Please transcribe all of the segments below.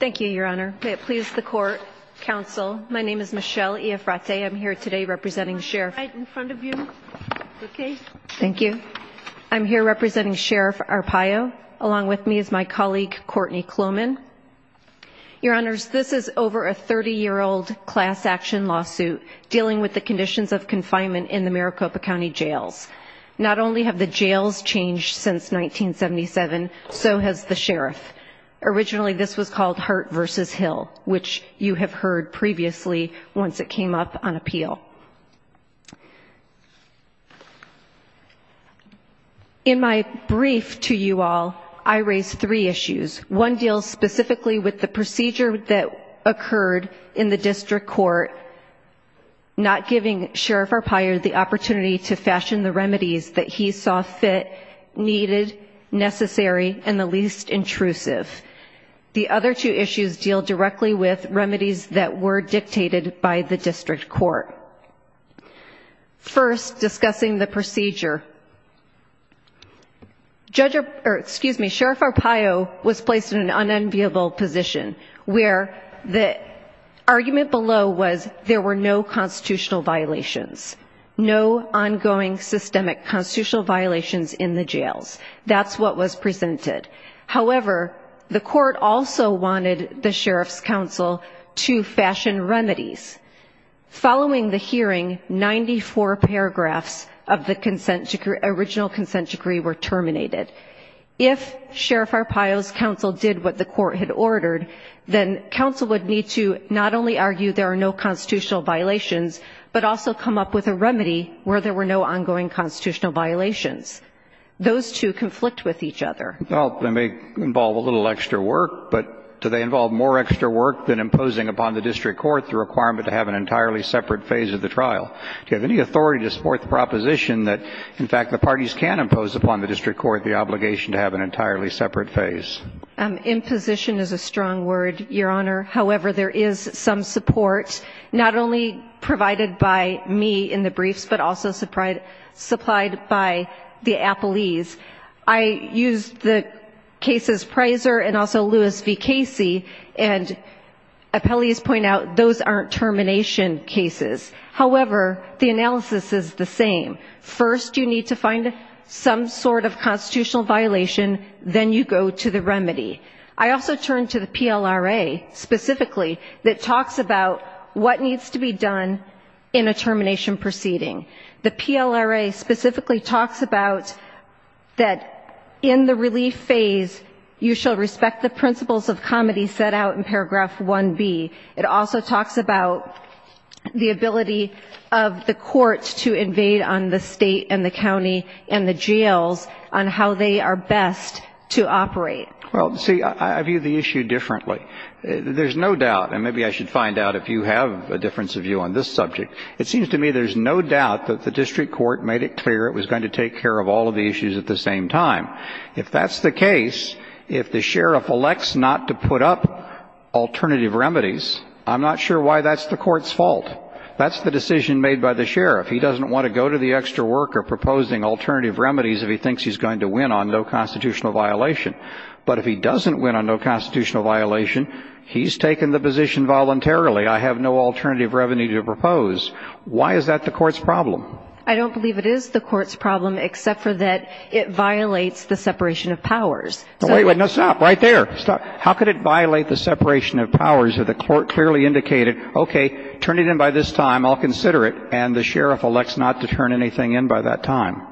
Thank you, Your Honor. May it please the Court, Counsel. My name is Michelle Iafrate. I'm here today representing Sheriff Arpaio, along with me is my colleague Courtney Kloman. Your Honors, this is over a 30-year-old class action lawsuit dealing with the conditions of confinement in the Maricopa County Jails. Not only have the jails changed since 1977, so has the Sheriff. Originally this was called Hart v. Hill, which you have heard previously once it came up on appeal. In my brief to you all, I raised three issues. One deals specifically with the procedure that occurred in the District Court, not giving Sheriff Arpaio the opportunity to fashion the remedies that he saw fit, needed, necessary, and the least intrusive. The other two issues deal directly with remedies that were dictated by the District Court. First, discussing the procedure. Sheriff Arpaio was placed in an unenviable position where the argument below was there were no constitutional violations, no ongoing systemic constitutional violations in the jails. That's what was presented. However, the Court also wanted the Sheriff's Counsel to fashion remedies. Following the hearing, 94 paragraphs of the original consent decree were terminated. If Sheriff Arpaio's Counsel did what the Court had ordered, then Counsel would need to not only argue there are no constitutional violations, but also come up with a remedy where there were no ongoing constitutional violations. Those two conflict with each other. Well, they may involve a little extra work, but do they involve more extra work than imposing upon the District Court the requirement to have an entirely separate phase of the trial? Do you have any authority to support the proposition that, in fact, the parties can impose upon the District Court the obligation to have an entirely separate phase? Imposition is a strong word, Your Honor. However, there is some support, not only provided by me in the briefs, but also supplied by the appellees. I used the cases Prizer and also Lewis v. Casey, and appellees point out those aren't termination cases. However, the analysis is the same. First, you need to find some sort of constitutional violation. Then you go to the remedy. I also turn to the PLRA specifically that talks about what needs to be done in a termination proceeding. The PLRA specifically talks about that in the relief phase, you shall respect the principles of comity set out in paragraph 1B. It also talks about the ability of the courts to invade on the state and the county and the jails on how they are best to operate. Well, see, I view the issue differently. There's no doubt, and maybe I should find out if you have a difference of view on this subject, it seems to me there's no doubt that the District Court made it clear it was going to take care of all of the issues at the same time. If that's the case, if the sheriff elects not to put up alternative remedies, I'm not sure why that's the court's fault. That's the decision made by the sheriff. He doesn't want to go to the extra worker proposing alternative remedies if he thinks he's going to win on no constitutional violation. But if he doesn't win on no constitutional violation, he's taken the position voluntarily. I have no alternative revenue to propose. Why is that the court's problem? I don't believe it is the court's problem except for that it violates the separation of powers. Wait, wait, no, stop, right there. How could it violate the separation of powers if the court clearly indicated, okay, turn it in by this time, I'll consider it, and the sheriff elects not to turn anything in by that time?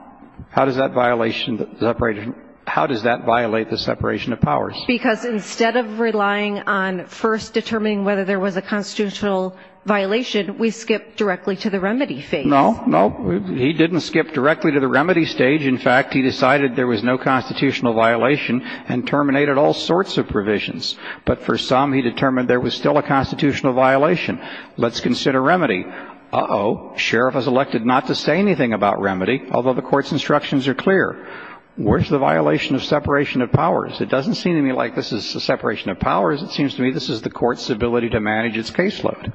How does that violate the separation of powers? Because instead of relying on first determining whether there was a constitutional violation, we skip directly to the remedy phase. No, no, he didn't skip directly to the remedy stage. In fact, he decided there was no constitutional violation and terminated all sorts of provisions. But for some, he determined there was still a constitutional violation. Let's consider remedy. Uh-oh, sheriff has elected not to say anything about remedy, although the court's instructions are clear. Where's the violation of separation of powers? It doesn't seem to me like this is the separation of powers. It seems to me this is the court's ability to manage its caseload.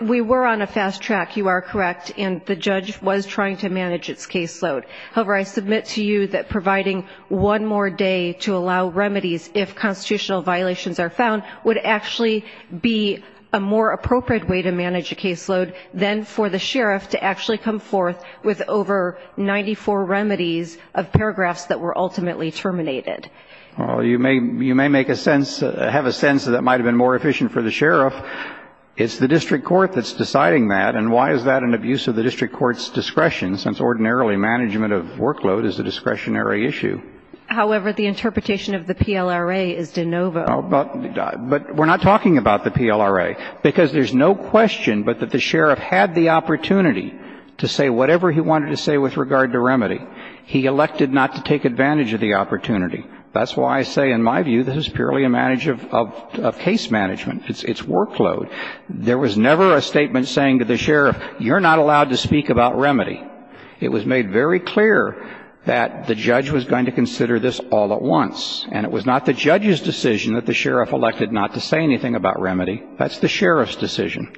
We were on a fast track, you are correct, and the judge was trying to manage its caseload. However, I submit to you that providing one more day to allow remedies if constitutional violations are found would actually be a more appropriate way to manage a caseload than for the sheriff to actually come forth with over 94 remedies of paragraphs that were ultimately terminated. Well, you may make a sense, have a sense that might have been more efficient for the sheriff. It's the district court that's deciding that, and why is that an abuse of the district court's discretion since ordinarily management of workload is a discretionary issue? However, the interpretation of the PLRA is de novo. But we're not talking about the PLRA because there's no question but that the sheriff had the opportunity to say whatever he wanted to say with regard to remedy. He elected not to take advantage of the opportunity. That's why I say in my view this is purely a matter of case management, its workload. There was never a statement saying to the sheriff, you're not allowed to speak about remedy. It was made very clear that the judge was going to consider this all at once. And it was not the judge's decision that the sheriff elected not to say anything about remedy. That's the sheriff's decision.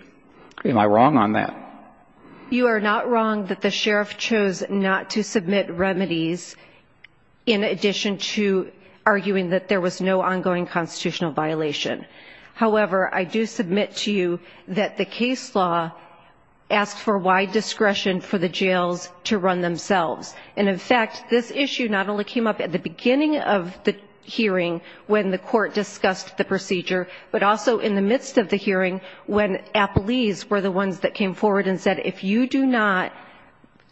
Am I wrong on that? You are not wrong that the sheriff chose not to submit remedies in addition to arguing that there was no ongoing constitutional violation. However, I do submit to you that the case law asked for wide discretion for the jails to run themselves. And in fact, this issue not only came up at the beginning of the hearing when the court discussed the procedure, but also in the midst of the hearing when appellees were the ones that came forward and said, if you do not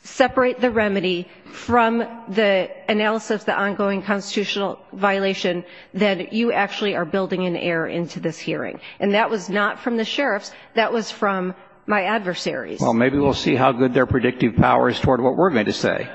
separate the remedy from the analysis of the ongoing constitutional violation, then you actually are building an heir into this hearing. And that was not from the sheriffs. That was from my adversaries. Well, maybe we'll see how good their predictive power is toward what we're going to say.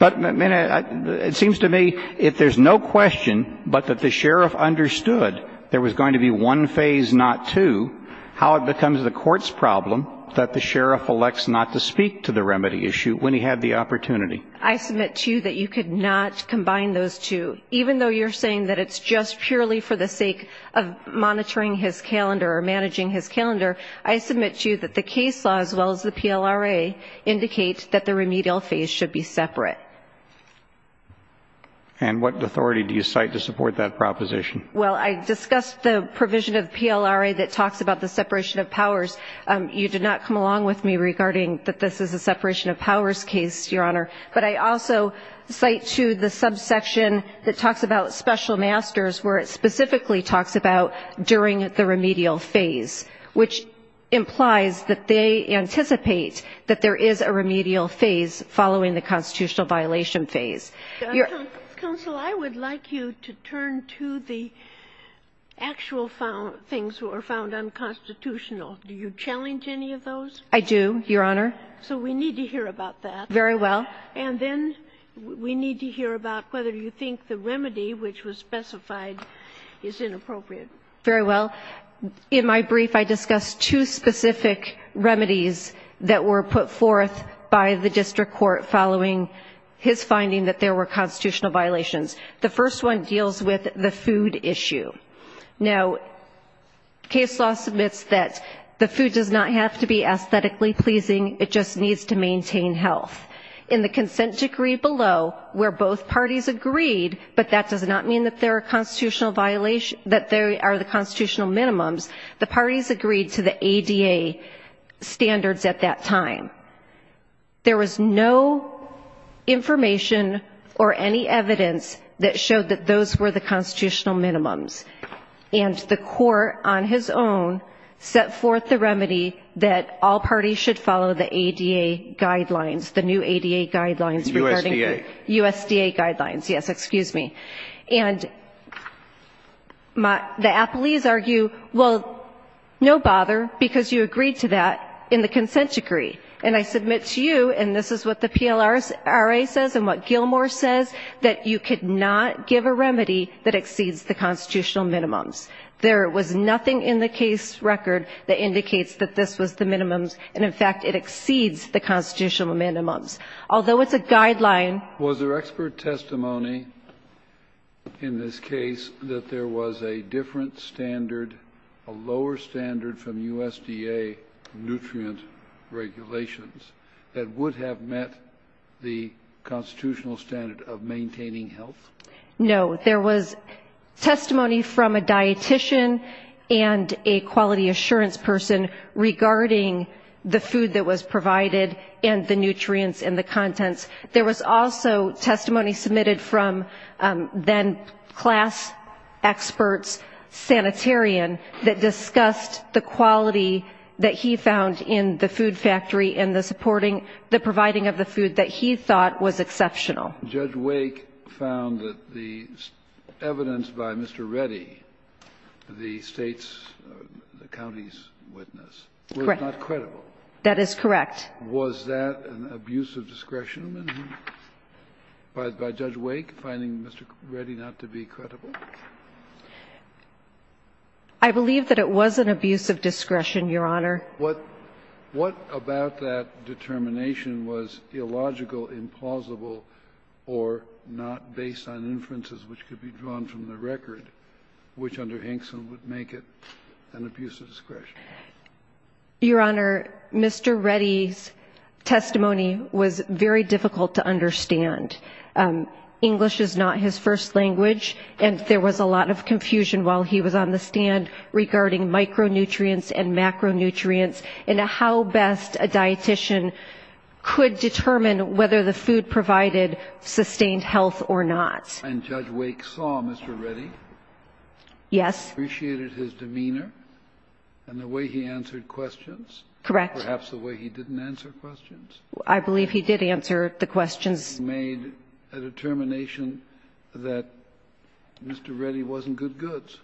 But it seems to me if there's no question but that the sheriff understood there was going to be one phase, not two, how it becomes the court's problem that the sheriff elects not to speak to the remedy issue when he had the opportunity. I submit to you that you could not combine those two. Even though you're saying that it's just purely for the sake of monitoring his calendar or managing his calendar, I submit to you that the case law as well as the PLRA indicate that the remedial phase should be separate. And what authority do you cite to support that proposition? Well, I discussed the provision of PLRA that talks about the separation of powers. You did not come along with me regarding that this is a separation of powers case, Your Honor. But I also cite to the subsection that talks about special masters where it specifically talks about during the remedial phase, which implies that they anticipate that there is a remedial phase following the constitutional violation phase. Counsel, I would like you to turn to the actual things that were found unconstitutional. Do you challenge any of those? I do, Your Honor. So we need to hear about that. Very well. And then we need to hear about whether you think the remedy which was specified is inappropriate. Very well. In my brief, I discussed two specific remedies that were put forth by the district court following his finding that there were constitutional violations. The first one deals with the food issue. Now, case law submits that the food does not have to be aesthetically pleasing. It just needs to maintain health. In the consent decree below, where both parties agreed, but that does not mean that there are constitutional violations, that there are the constitutional minimums, the parties agreed to the ADA standards at that time. There was no information or any evidence that showed that those were the constitutional minimums. And the court on his own set forth the remedy that all parties should follow the ADA guidelines, the new ADA guidelines regarding the USDA guidelines. Yes, excuse me. And the appellees argue, well, no bother, because you agreed to that in the consent decree. And I submit to you, and this is what the PLRA says and what Gilmore says, that you could not give a remedy that exceeds the constitutional minimums. There was nothing in the case record that indicates that this was the minimums, and, in fact, it exceeds the constitutional minimums. Although it's a guideline. Was there expert testimony in this case that there was a different standard, a lower standard from USDA nutrient regulations, that would have met the constitutional standard of maintaining health? No. There was testimony from a dietician and a quality assurance person regarding the food that was provided and the nutrients and the contents. There was also testimony submitted from then-class experts, sanitarian, that discussed the quality that he found in the food factory and the supporting the providing of the food that he thought was exceptional. Judge Wake found that the evidence by Mr. Reddy, the state's, the county's witness, was not credible. That is correct. Was that an abuse of discretion, then, by Judge Wake, finding Mr. Reddy not to be credible? I believe that it was an abuse of discretion, Your Honor. What about that determination was illogical, implausible, or not based on inferences which could be drawn from the record, which under Hinkson would make it an abuse of discretion? Your Honor, Mr. Reddy's testimony was very difficult to understand. English is not his first language, and there was a lot of confusion while he was on the stand regarding micronutrients and macronutrients and how best a dietician could determine whether the food provided sustained health or not. And Judge Wake saw Mr. Reddy? Yes. He appreciated his demeanor and the way he answered questions? Correct. Perhaps the way he didn't answer questions? I believe he did answer the questions. He made a determination that Mr. Reddy wasn't good goods.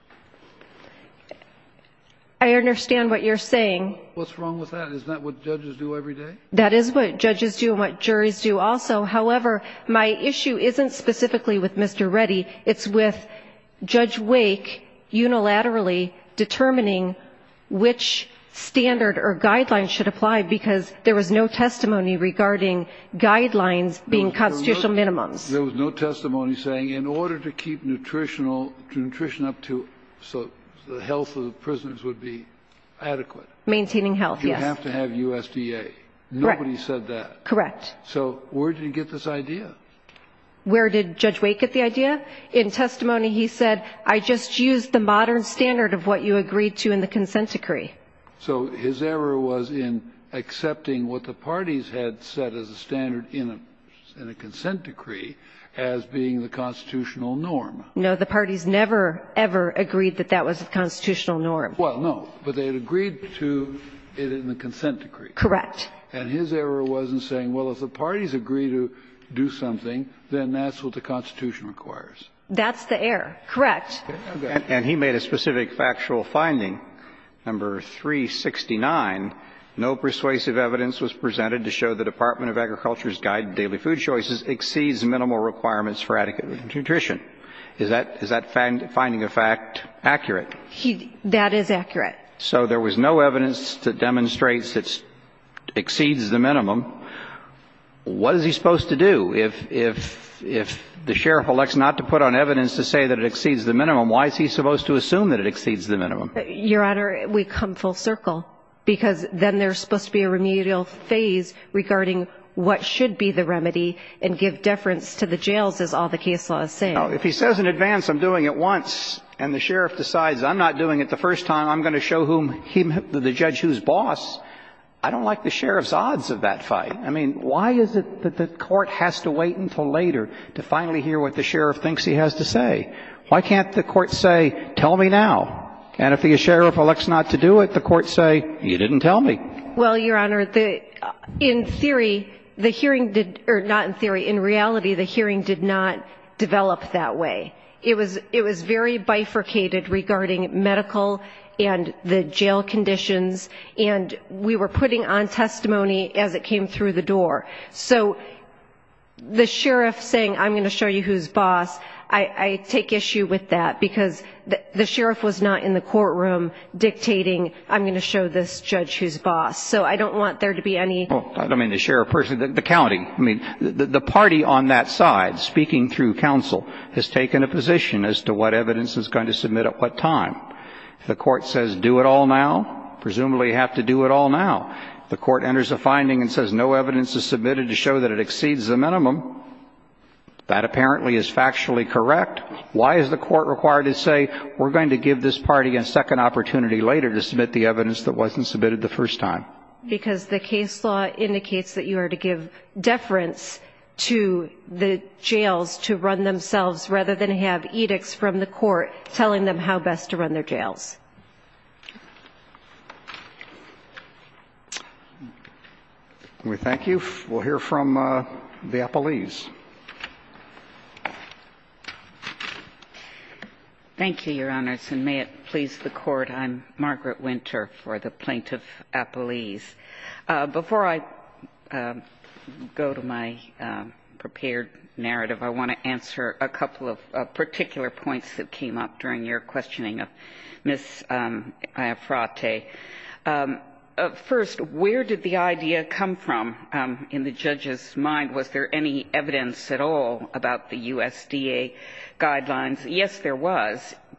I understand what you're saying. What's wrong with that? Isn't that what judges do every day? That is what judges do and what juries do also. However, my issue isn't specifically with Mr. Reddy. It's with Judge Wake unilaterally determining which standard or guidelines should apply because there was no testimony regarding guidelines being constitutional minimums. There was no testimony saying in order to keep nutritional, to nutrition up to, so the health of the prisoners would be adequate. Maintaining health, yes. You have to have USDA. Nobody said that. Correct. So where did he get this idea? Where did Judge Wake get the idea? In testimony he said, I just used the modern standard of what you agreed to in the consent decree. So his error was in accepting what the parties had set as a standard in a consent decree as being the constitutional norm. No, the parties never, ever agreed that that was the constitutional norm. Well, no, but they had agreed to it in the consent decree. Correct. And his error was in saying, well, if the parties agree to do something, then that's what the Constitution requires. That's the error. Correct. And he made a specific factual finding, number 369, no persuasive evidence was presented to show the Department of Agriculture's guide to daily food choices exceeds minimal requirements for adequate nutrition. Is that finding of fact accurate? That is accurate. So there was no evidence that demonstrates it exceeds the minimum. What is he supposed to do? If the sheriff elects not to put on evidence to say that it exceeds the minimum, why is he supposed to assume that it exceeds the minimum? Your Honor, we come full circle, because then there's supposed to be a remedial phase regarding what should be the remedy and give deference to the jails, as all the case law is saying. If he says in advance, I'm doing it once, and the sheriff decides I'm not doing it the first time, I'm going to show the judge who's boss, I don't like the sheriff's odds of that fight. I mean, why is it that the court has to wait until later to finally hear what the sheriff thinks he has to say? Why can't the court say, tell me now? And if the sheriff elects not to do it, the court say, you didn't tell me. Well, Your Honor, in theory, the hearing did or not in theory, in reality, the hearing did not develop that way. It was very bifurcated regarding medical and the jail conditions, and we were putting on testimony as it came through the door. So the sheriff saying, I'm going to show you who's boss, I take issue with that, because the sheriff was not in the courtroom dictating, I'm going to show this judge who's boss. So I don't want there to be any ---- Well, I don't mean the sheriff personally, the county. I mean, the party on that side, speaking through counsel, has taken a position as to what evidence is going to submit at what time. If the court says do it all now, presumably you have to do it all now. If the court enters a finding and says no evidence is submitted to show that it exceeds the minimum, that apparently is factually correct. Why is the court required to say, we're going to give this party a second opportunity later to submit the evidence that wasn't submitted the first time? Because the case law indicates that you are to give deference to the jails to run themselves, rather than have edicts from the court telling them how best to run their jails. Can we thank you? We'll hear from the appellees. Thank you, Your Honors, and may it please the Court, I'm Margaret Winter for the Appellees. Before I go to my prepared narrative, I want to answer a couple of particular points that came up during your questioning of Ms. Iafrate. First, where did the idea come from in the judge's mind? Was there any evidence at all about the USDA guidelines? Yes, there was.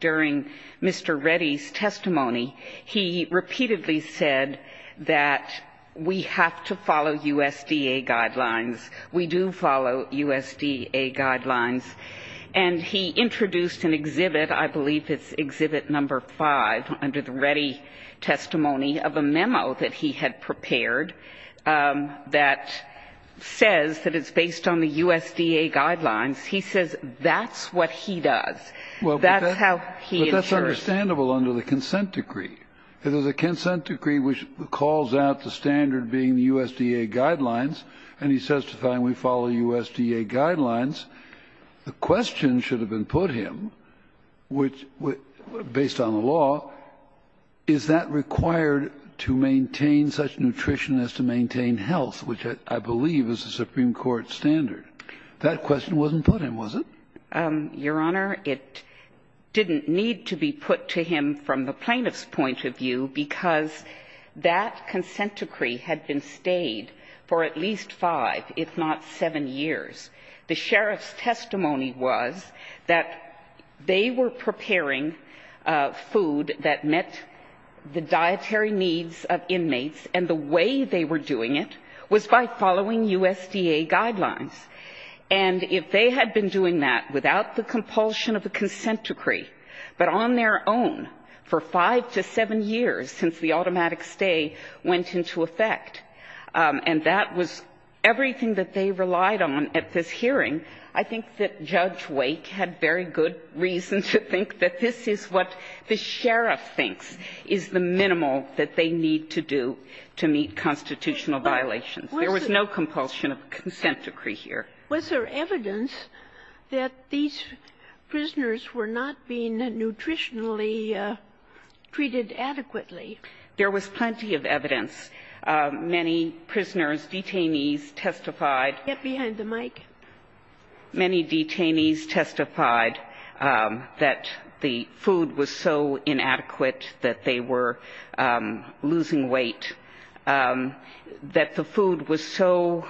I believe it's Exhibit No. 5 under the Reddy testimony of a memo that he had prepared that says that it's based on the USDA guidelines. He says that's what he does. He says that's how he does it. But that's understandable under the consent decree. There's a consent decree which calls out the standard being the USDA guidelines, and he says to find we follow USDA guidelines. The question should have been put to him, based on the law, is that required to maintain such nutrition as to maintain health, which I believe is the Supreme Court standard. That question wasn't put to him, was it? Your Honor, it didn't need to be put to him from the plaintiff's point of view because that consent decree had been stayed for at least five, if not seven, years. The sheriff's testimony was that they were preparing food that met the dietary needs of inmates, and the way they were doing it was by following USDA guidelines. And if they had been doing that without the compulsion of a consent decree, but on their own for five to seven years since the automatic stay went into effect, and that was everything that they relied on at this hearing, I think that Judge Wake had very good reason to think that this is what the sheriff thinks is the minimal that they need to do to meet constitutional violations. There was no compulsion of consent decree here. Was there evidence that these prisoners were not being nutritionally treated adequately? There was plenty of evidence. Many prisoners, detainees testified. Get behind the mic. Many detainees testified that the food was so inadequate that they were losing weight, that the food was so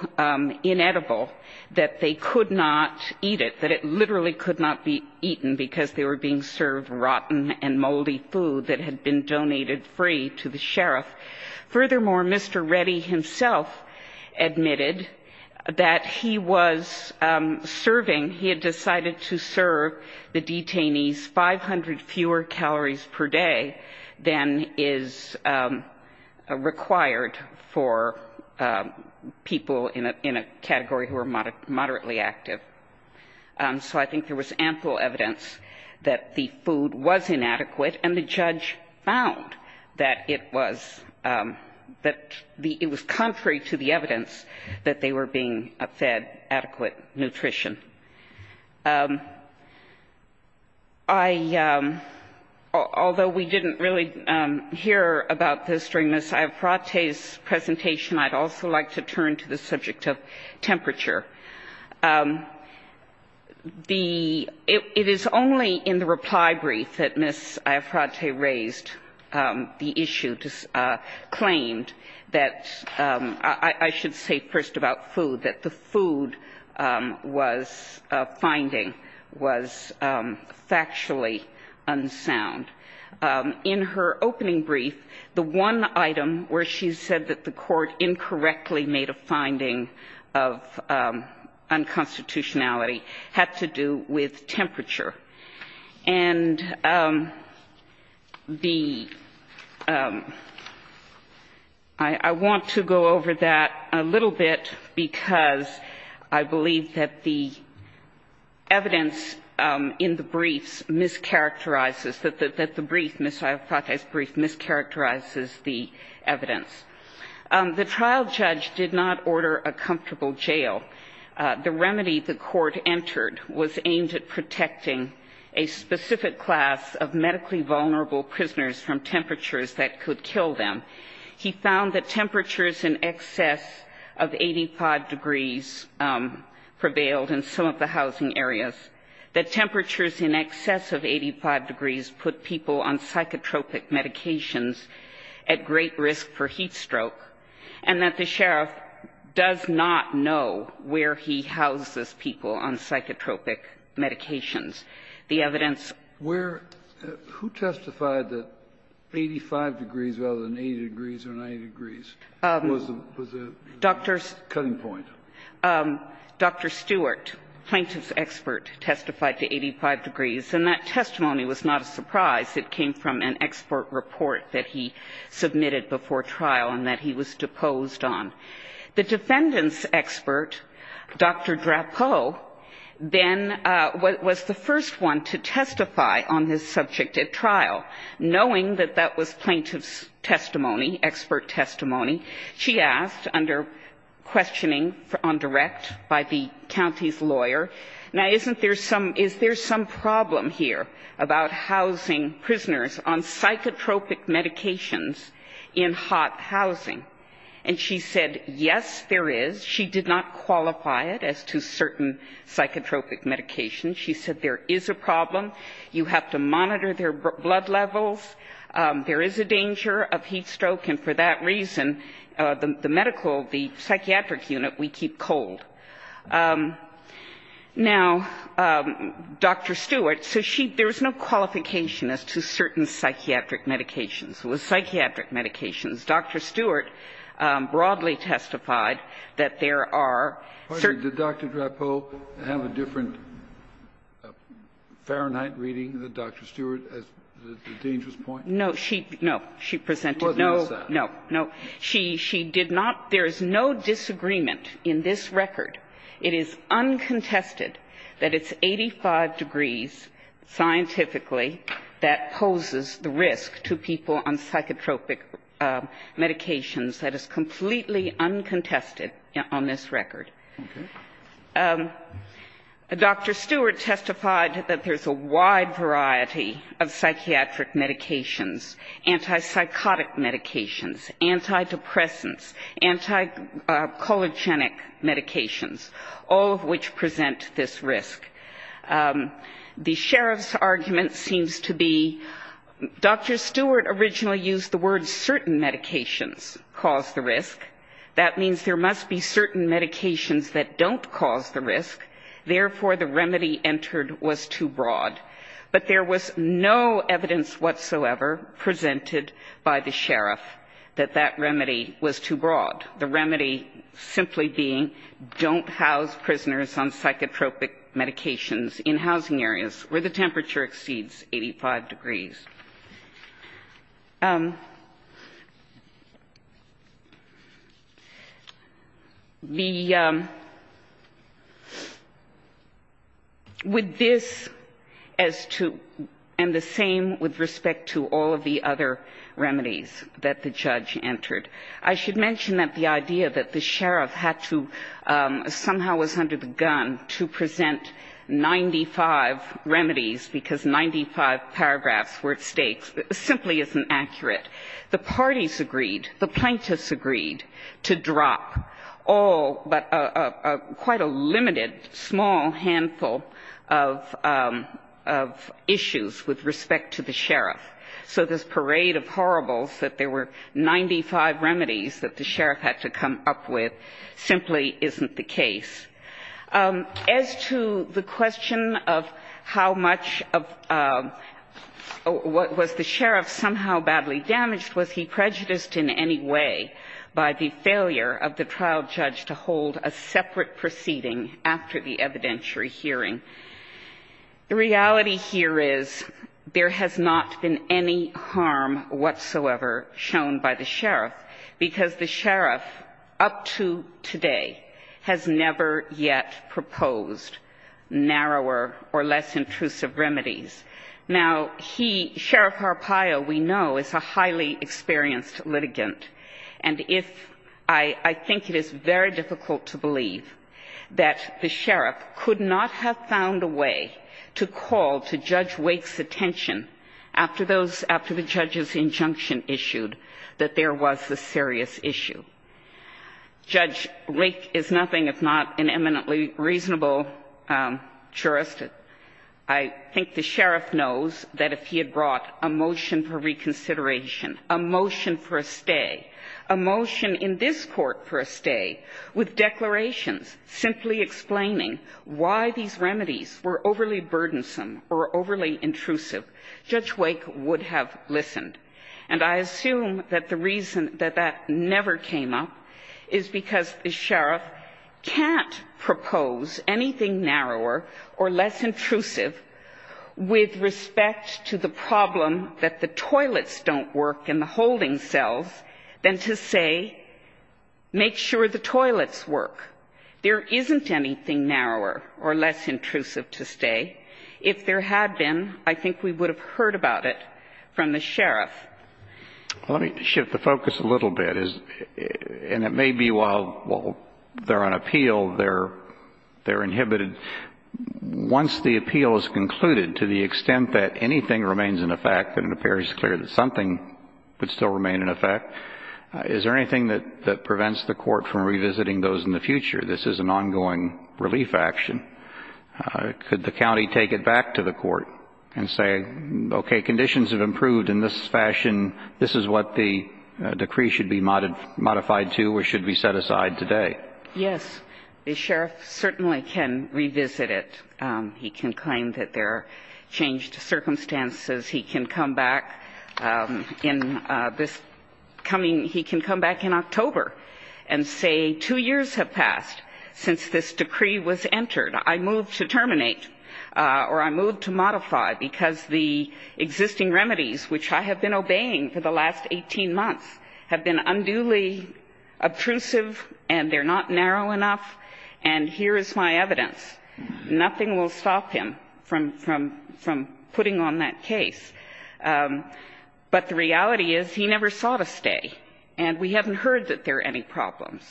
inedible that they could not eat it, that it literally could not be eaten because they were being served rotten and moldy food that had been donated free to the sheriff. Furthermore, Mr. Reddy himself admitted that he was serving, he had decided to for people in a category who were moderately active. So I think there was ample evidence that the food was inadequate and the judge found that it was, that it was contrary to the evidence that they were being fed adequate nutrition. I, although we didn't really hear about this during Mr. Wake's testimony, I think Ms. Iafrate's presentation, I'd also like to turn to the subject of temperature. The, it is only in the reply brief that Ms. Iafrate raised the issue, claimed that I should say first about food, that the food was, finding was factually unsound. In her opening brief, the one item where she said that the court incorrectly made a finding of unconstitutionality had to do with temperature. And the, I want to go over that a little bit because I believe that the evidence in the briefs mischaracterizes, that the brief, Ms. Iafrate's brief, mischaracterizes the evidence. The trial judge did not order a comfortable jail. The remedy the court entered was aimed at protecting a specific class of medically vulnerable prisoners from temperatures that could kill them. He found that temperatures in excess of 85 degrees prevailed in some of the housing areas, that temperatures in excess of 85 degrees put people on psychotropic medications at great risk for heat stroke, and that the sheriff does not know where he houses people on psychotropic medications. The evidence was not found in the brief. Kennedy. Who testified that 85 degrees rather than 80 degrees or 90 degrees was the cutting point? Dr. Stewart, plaintiff's expert, testified to 85 degrees. And that testimony was not a surprise. It came from an expert report that he submitted before trial and that he was deposed on. The defendant's expert, Dr. Drapeau, then was the first one to testify on his subject at trial, knowing that that was plaintiff's testimony, expert testimony. She asked under questioning on direct by the county's lawyer, now, isn't there some, is there some problem here about housing prisoners on psychotropic medications in hot housing? And she said, yes, there is. She did not qualify it as to certain psychotropic medications. She said there is a problem. You have to monitor their blood levels. There is a danger of heat stroke. And for that reason, the medical, the psychiatric unit, we keep cold. Now, Dr. Stewart, so she, there was no qualification as to certain psychiatric medications. It was psychiatric medications. Dr. Stewart broadly testified that there are certain. Kennedy, did Dr. Drapeau have a different Fahrenheit reading than Dr. Stewart as the dangerous point? No, she, no. She presented no. No, no. She, she did not. There is no disagreement in this record. It is uncontested that it's 85 degrees scientifically that poses the risk to people on psychotropic medications. That is completely uncontested on this record. Okay. Dr. Stewart testified that there's a wide variety of psychiatric medications, antipsychotic medications, antidepressants, antichologenic medications, all of which present this risk. The sheriff's argument seems to be Dr. Stewart originally used the word certain medications cause the risk. That means there must be certain medications that don't cause the risk. Therefore, the remedy entered was too broad. But there was no evidence whatsoever presented by the sheriff that that remedy was too broad. The remedy simply being don't house prisoners on psychotropic medications in housing areas where the temperature exceeds 85 degrees. And the same with respect to all of the other remedies that the judge entered. I should mention that the idea that the sheriff had to somehow was under the gun to present 95 remedies because 95 paragraphs were at stake simply isn't accurate. The parties agreed, the plaintiffs agreed to drop all but quite a limited small handful of issues with respect to the sheriff. So this parade of horribles that there were 95 remedies that the sheriff had to come up with simply isn't the case. As to the question of how much of what was the sheriff somehow badly damaged, was he prejudiced in any way by the failure of the trial judge to hold a separate proceeding after the evidentiary hearing, the reality here is there has not been any harm whatsoever shown by the sheriff, because the sheriff up to today has never yet proposed narrower or less intrusive remedies. Now, he, Sheriff Arpaio, we know, is a highly experienced litigant. And if, I think it is very difficult to believe that the sheriff could not have found a way to call to Judge Wake's attention after those, after the judge's injunction issued, that there was a serious issue. Judge Wake is nothing if not an eminently reasonable jurist. I think the sheriff knows that if he had brought a motion for reconsideration, a motion for a stay, a motion in this Court for a stay, with declarations simply explaining why these remedies were overly burdensome or overly intrusive, Judge Wake would have listened. And I assume that the reason that that never came up is because the sheriff can't propose anything narrower or less intrusive with respect to the problem that the toilets don't work and the holding cells, than to say, make sure the toilets work. There isn't anything narrower or less intrusive to stay. If there had been, I think we would have heard about it from the sheriff. Let me shift the focus a little bit. And it may be while they're on appeal, they're inhibited. But once the appeal is concluded, to the extent that anything remains in effect and it appears clear that something would still remain in effect, is there anything that prevents the Court from revisiting those in the future? This is an ongoing relief action. Could the county take it back to the Court and say, okay, conditions have improved in this fashion, this is what the decree should be modified to or should be set aside today? Yes. The sheriff certainly can revisit it. He can claim that there are changed circumstances. He can come back in this coming, he can come back in October and say, two years have passed since this decree was entered. I move to terminate or I move to modify because the existing remedies, which I have been and here is my evidence. Nothing will stop him from putting on that case. But the reality is he never saw to stay. And we haven't heard that there are any problems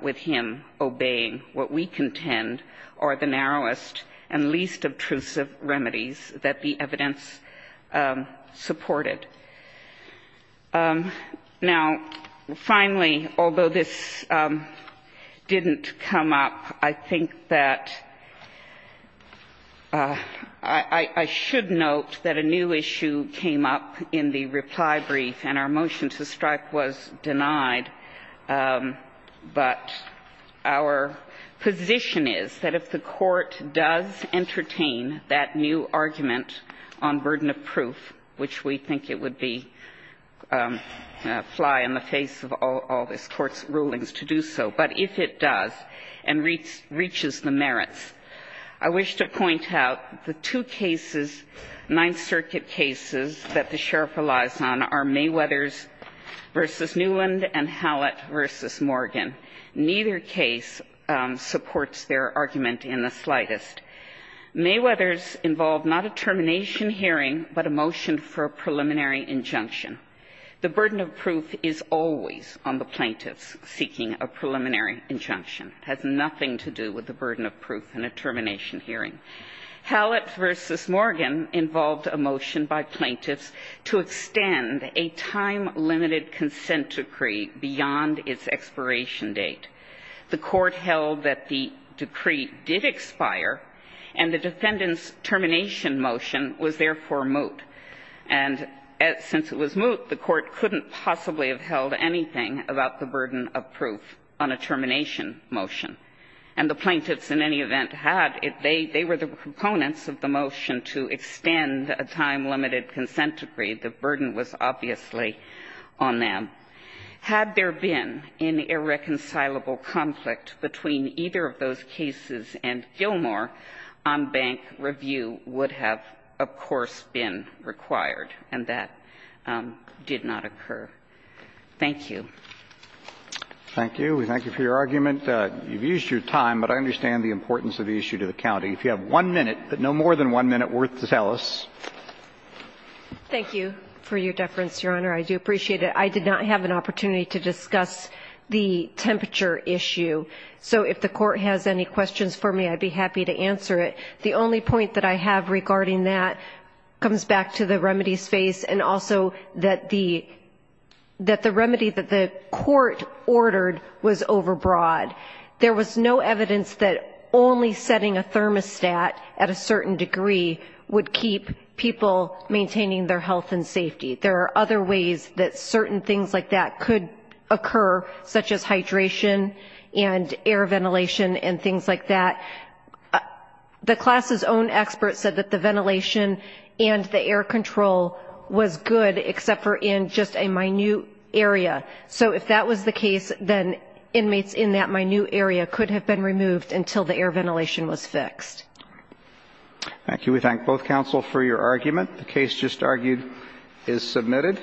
with him obeying what we contend are the narrowest and least obtrusive remedies that the evidence supported. Now, finally, although this didn't come up, I think that I should note that a new issue came up in the reply brief and our motion to strike was denied, but our position is that if the Court does entertain that new argument on burden of proof, which we think it would be fly in the face of all this Court's rulings to do so, but if it does and reaches the merits. I wish to point out the two cases, Ninth Circuit cases that the sheriff relies on are Mayweather's versus Newland and Hallett versus Morgan. Neither case supports their argument in the slightest. Mayweather's involved not a termination hearing, but a motion for a preliminary injunction. The burden of proof is always on the plaintiffs seeking a preliminary injunction. It has nothing to do with the burden of proof in a termination hearing. Hallett versus Morgan involved a motion by plaintiffs to extend a time-limited consent decree beyond its expiration date. The Court held that the decree did expire, and the defendant's termination motion was therefore moot. And since it was moot, the Court couldn't possibly have held anything about the burden of proof on a termination motion. And the plaintiffs in any event had it. They were the proponents of the motion to extend a time-limited consent decree. The burden was obviously on them. Had there been an irreconcilable conflict between either of those cases and Gilmore, on-bank review would have, of course, been required, and that did not occur. Thank you. Roberts. Thank you. We thank you for your argument. You've used your time, but I understand the importance of the issue to the county. If you have one minute, but no more than one minute worth to tell us. Thank you for your deference, Your Honor. I do appreciate it. I did not have an opportunity to discuss the temperature issue, so if the Court has any questions for me, I'd be happy to answer it. The only point that I have regarding that comes back to the remedies phase and also that the remedy that the Court ordered was overbroad. There was no evidence that only setting a thermostat at a certain degree would keep people maintaining their health and safety. There are other ways that certain things like that could occur, such as hydration and air ventilation and things like that. The class's own expert said that the ventilation and the air control was good, except for in just a minute area. So if that was the case, then inmates in that minute area could have been removed until the air ventilation was fixed. Thank you. We thank both counsel for your argument. The case just argued is submitted.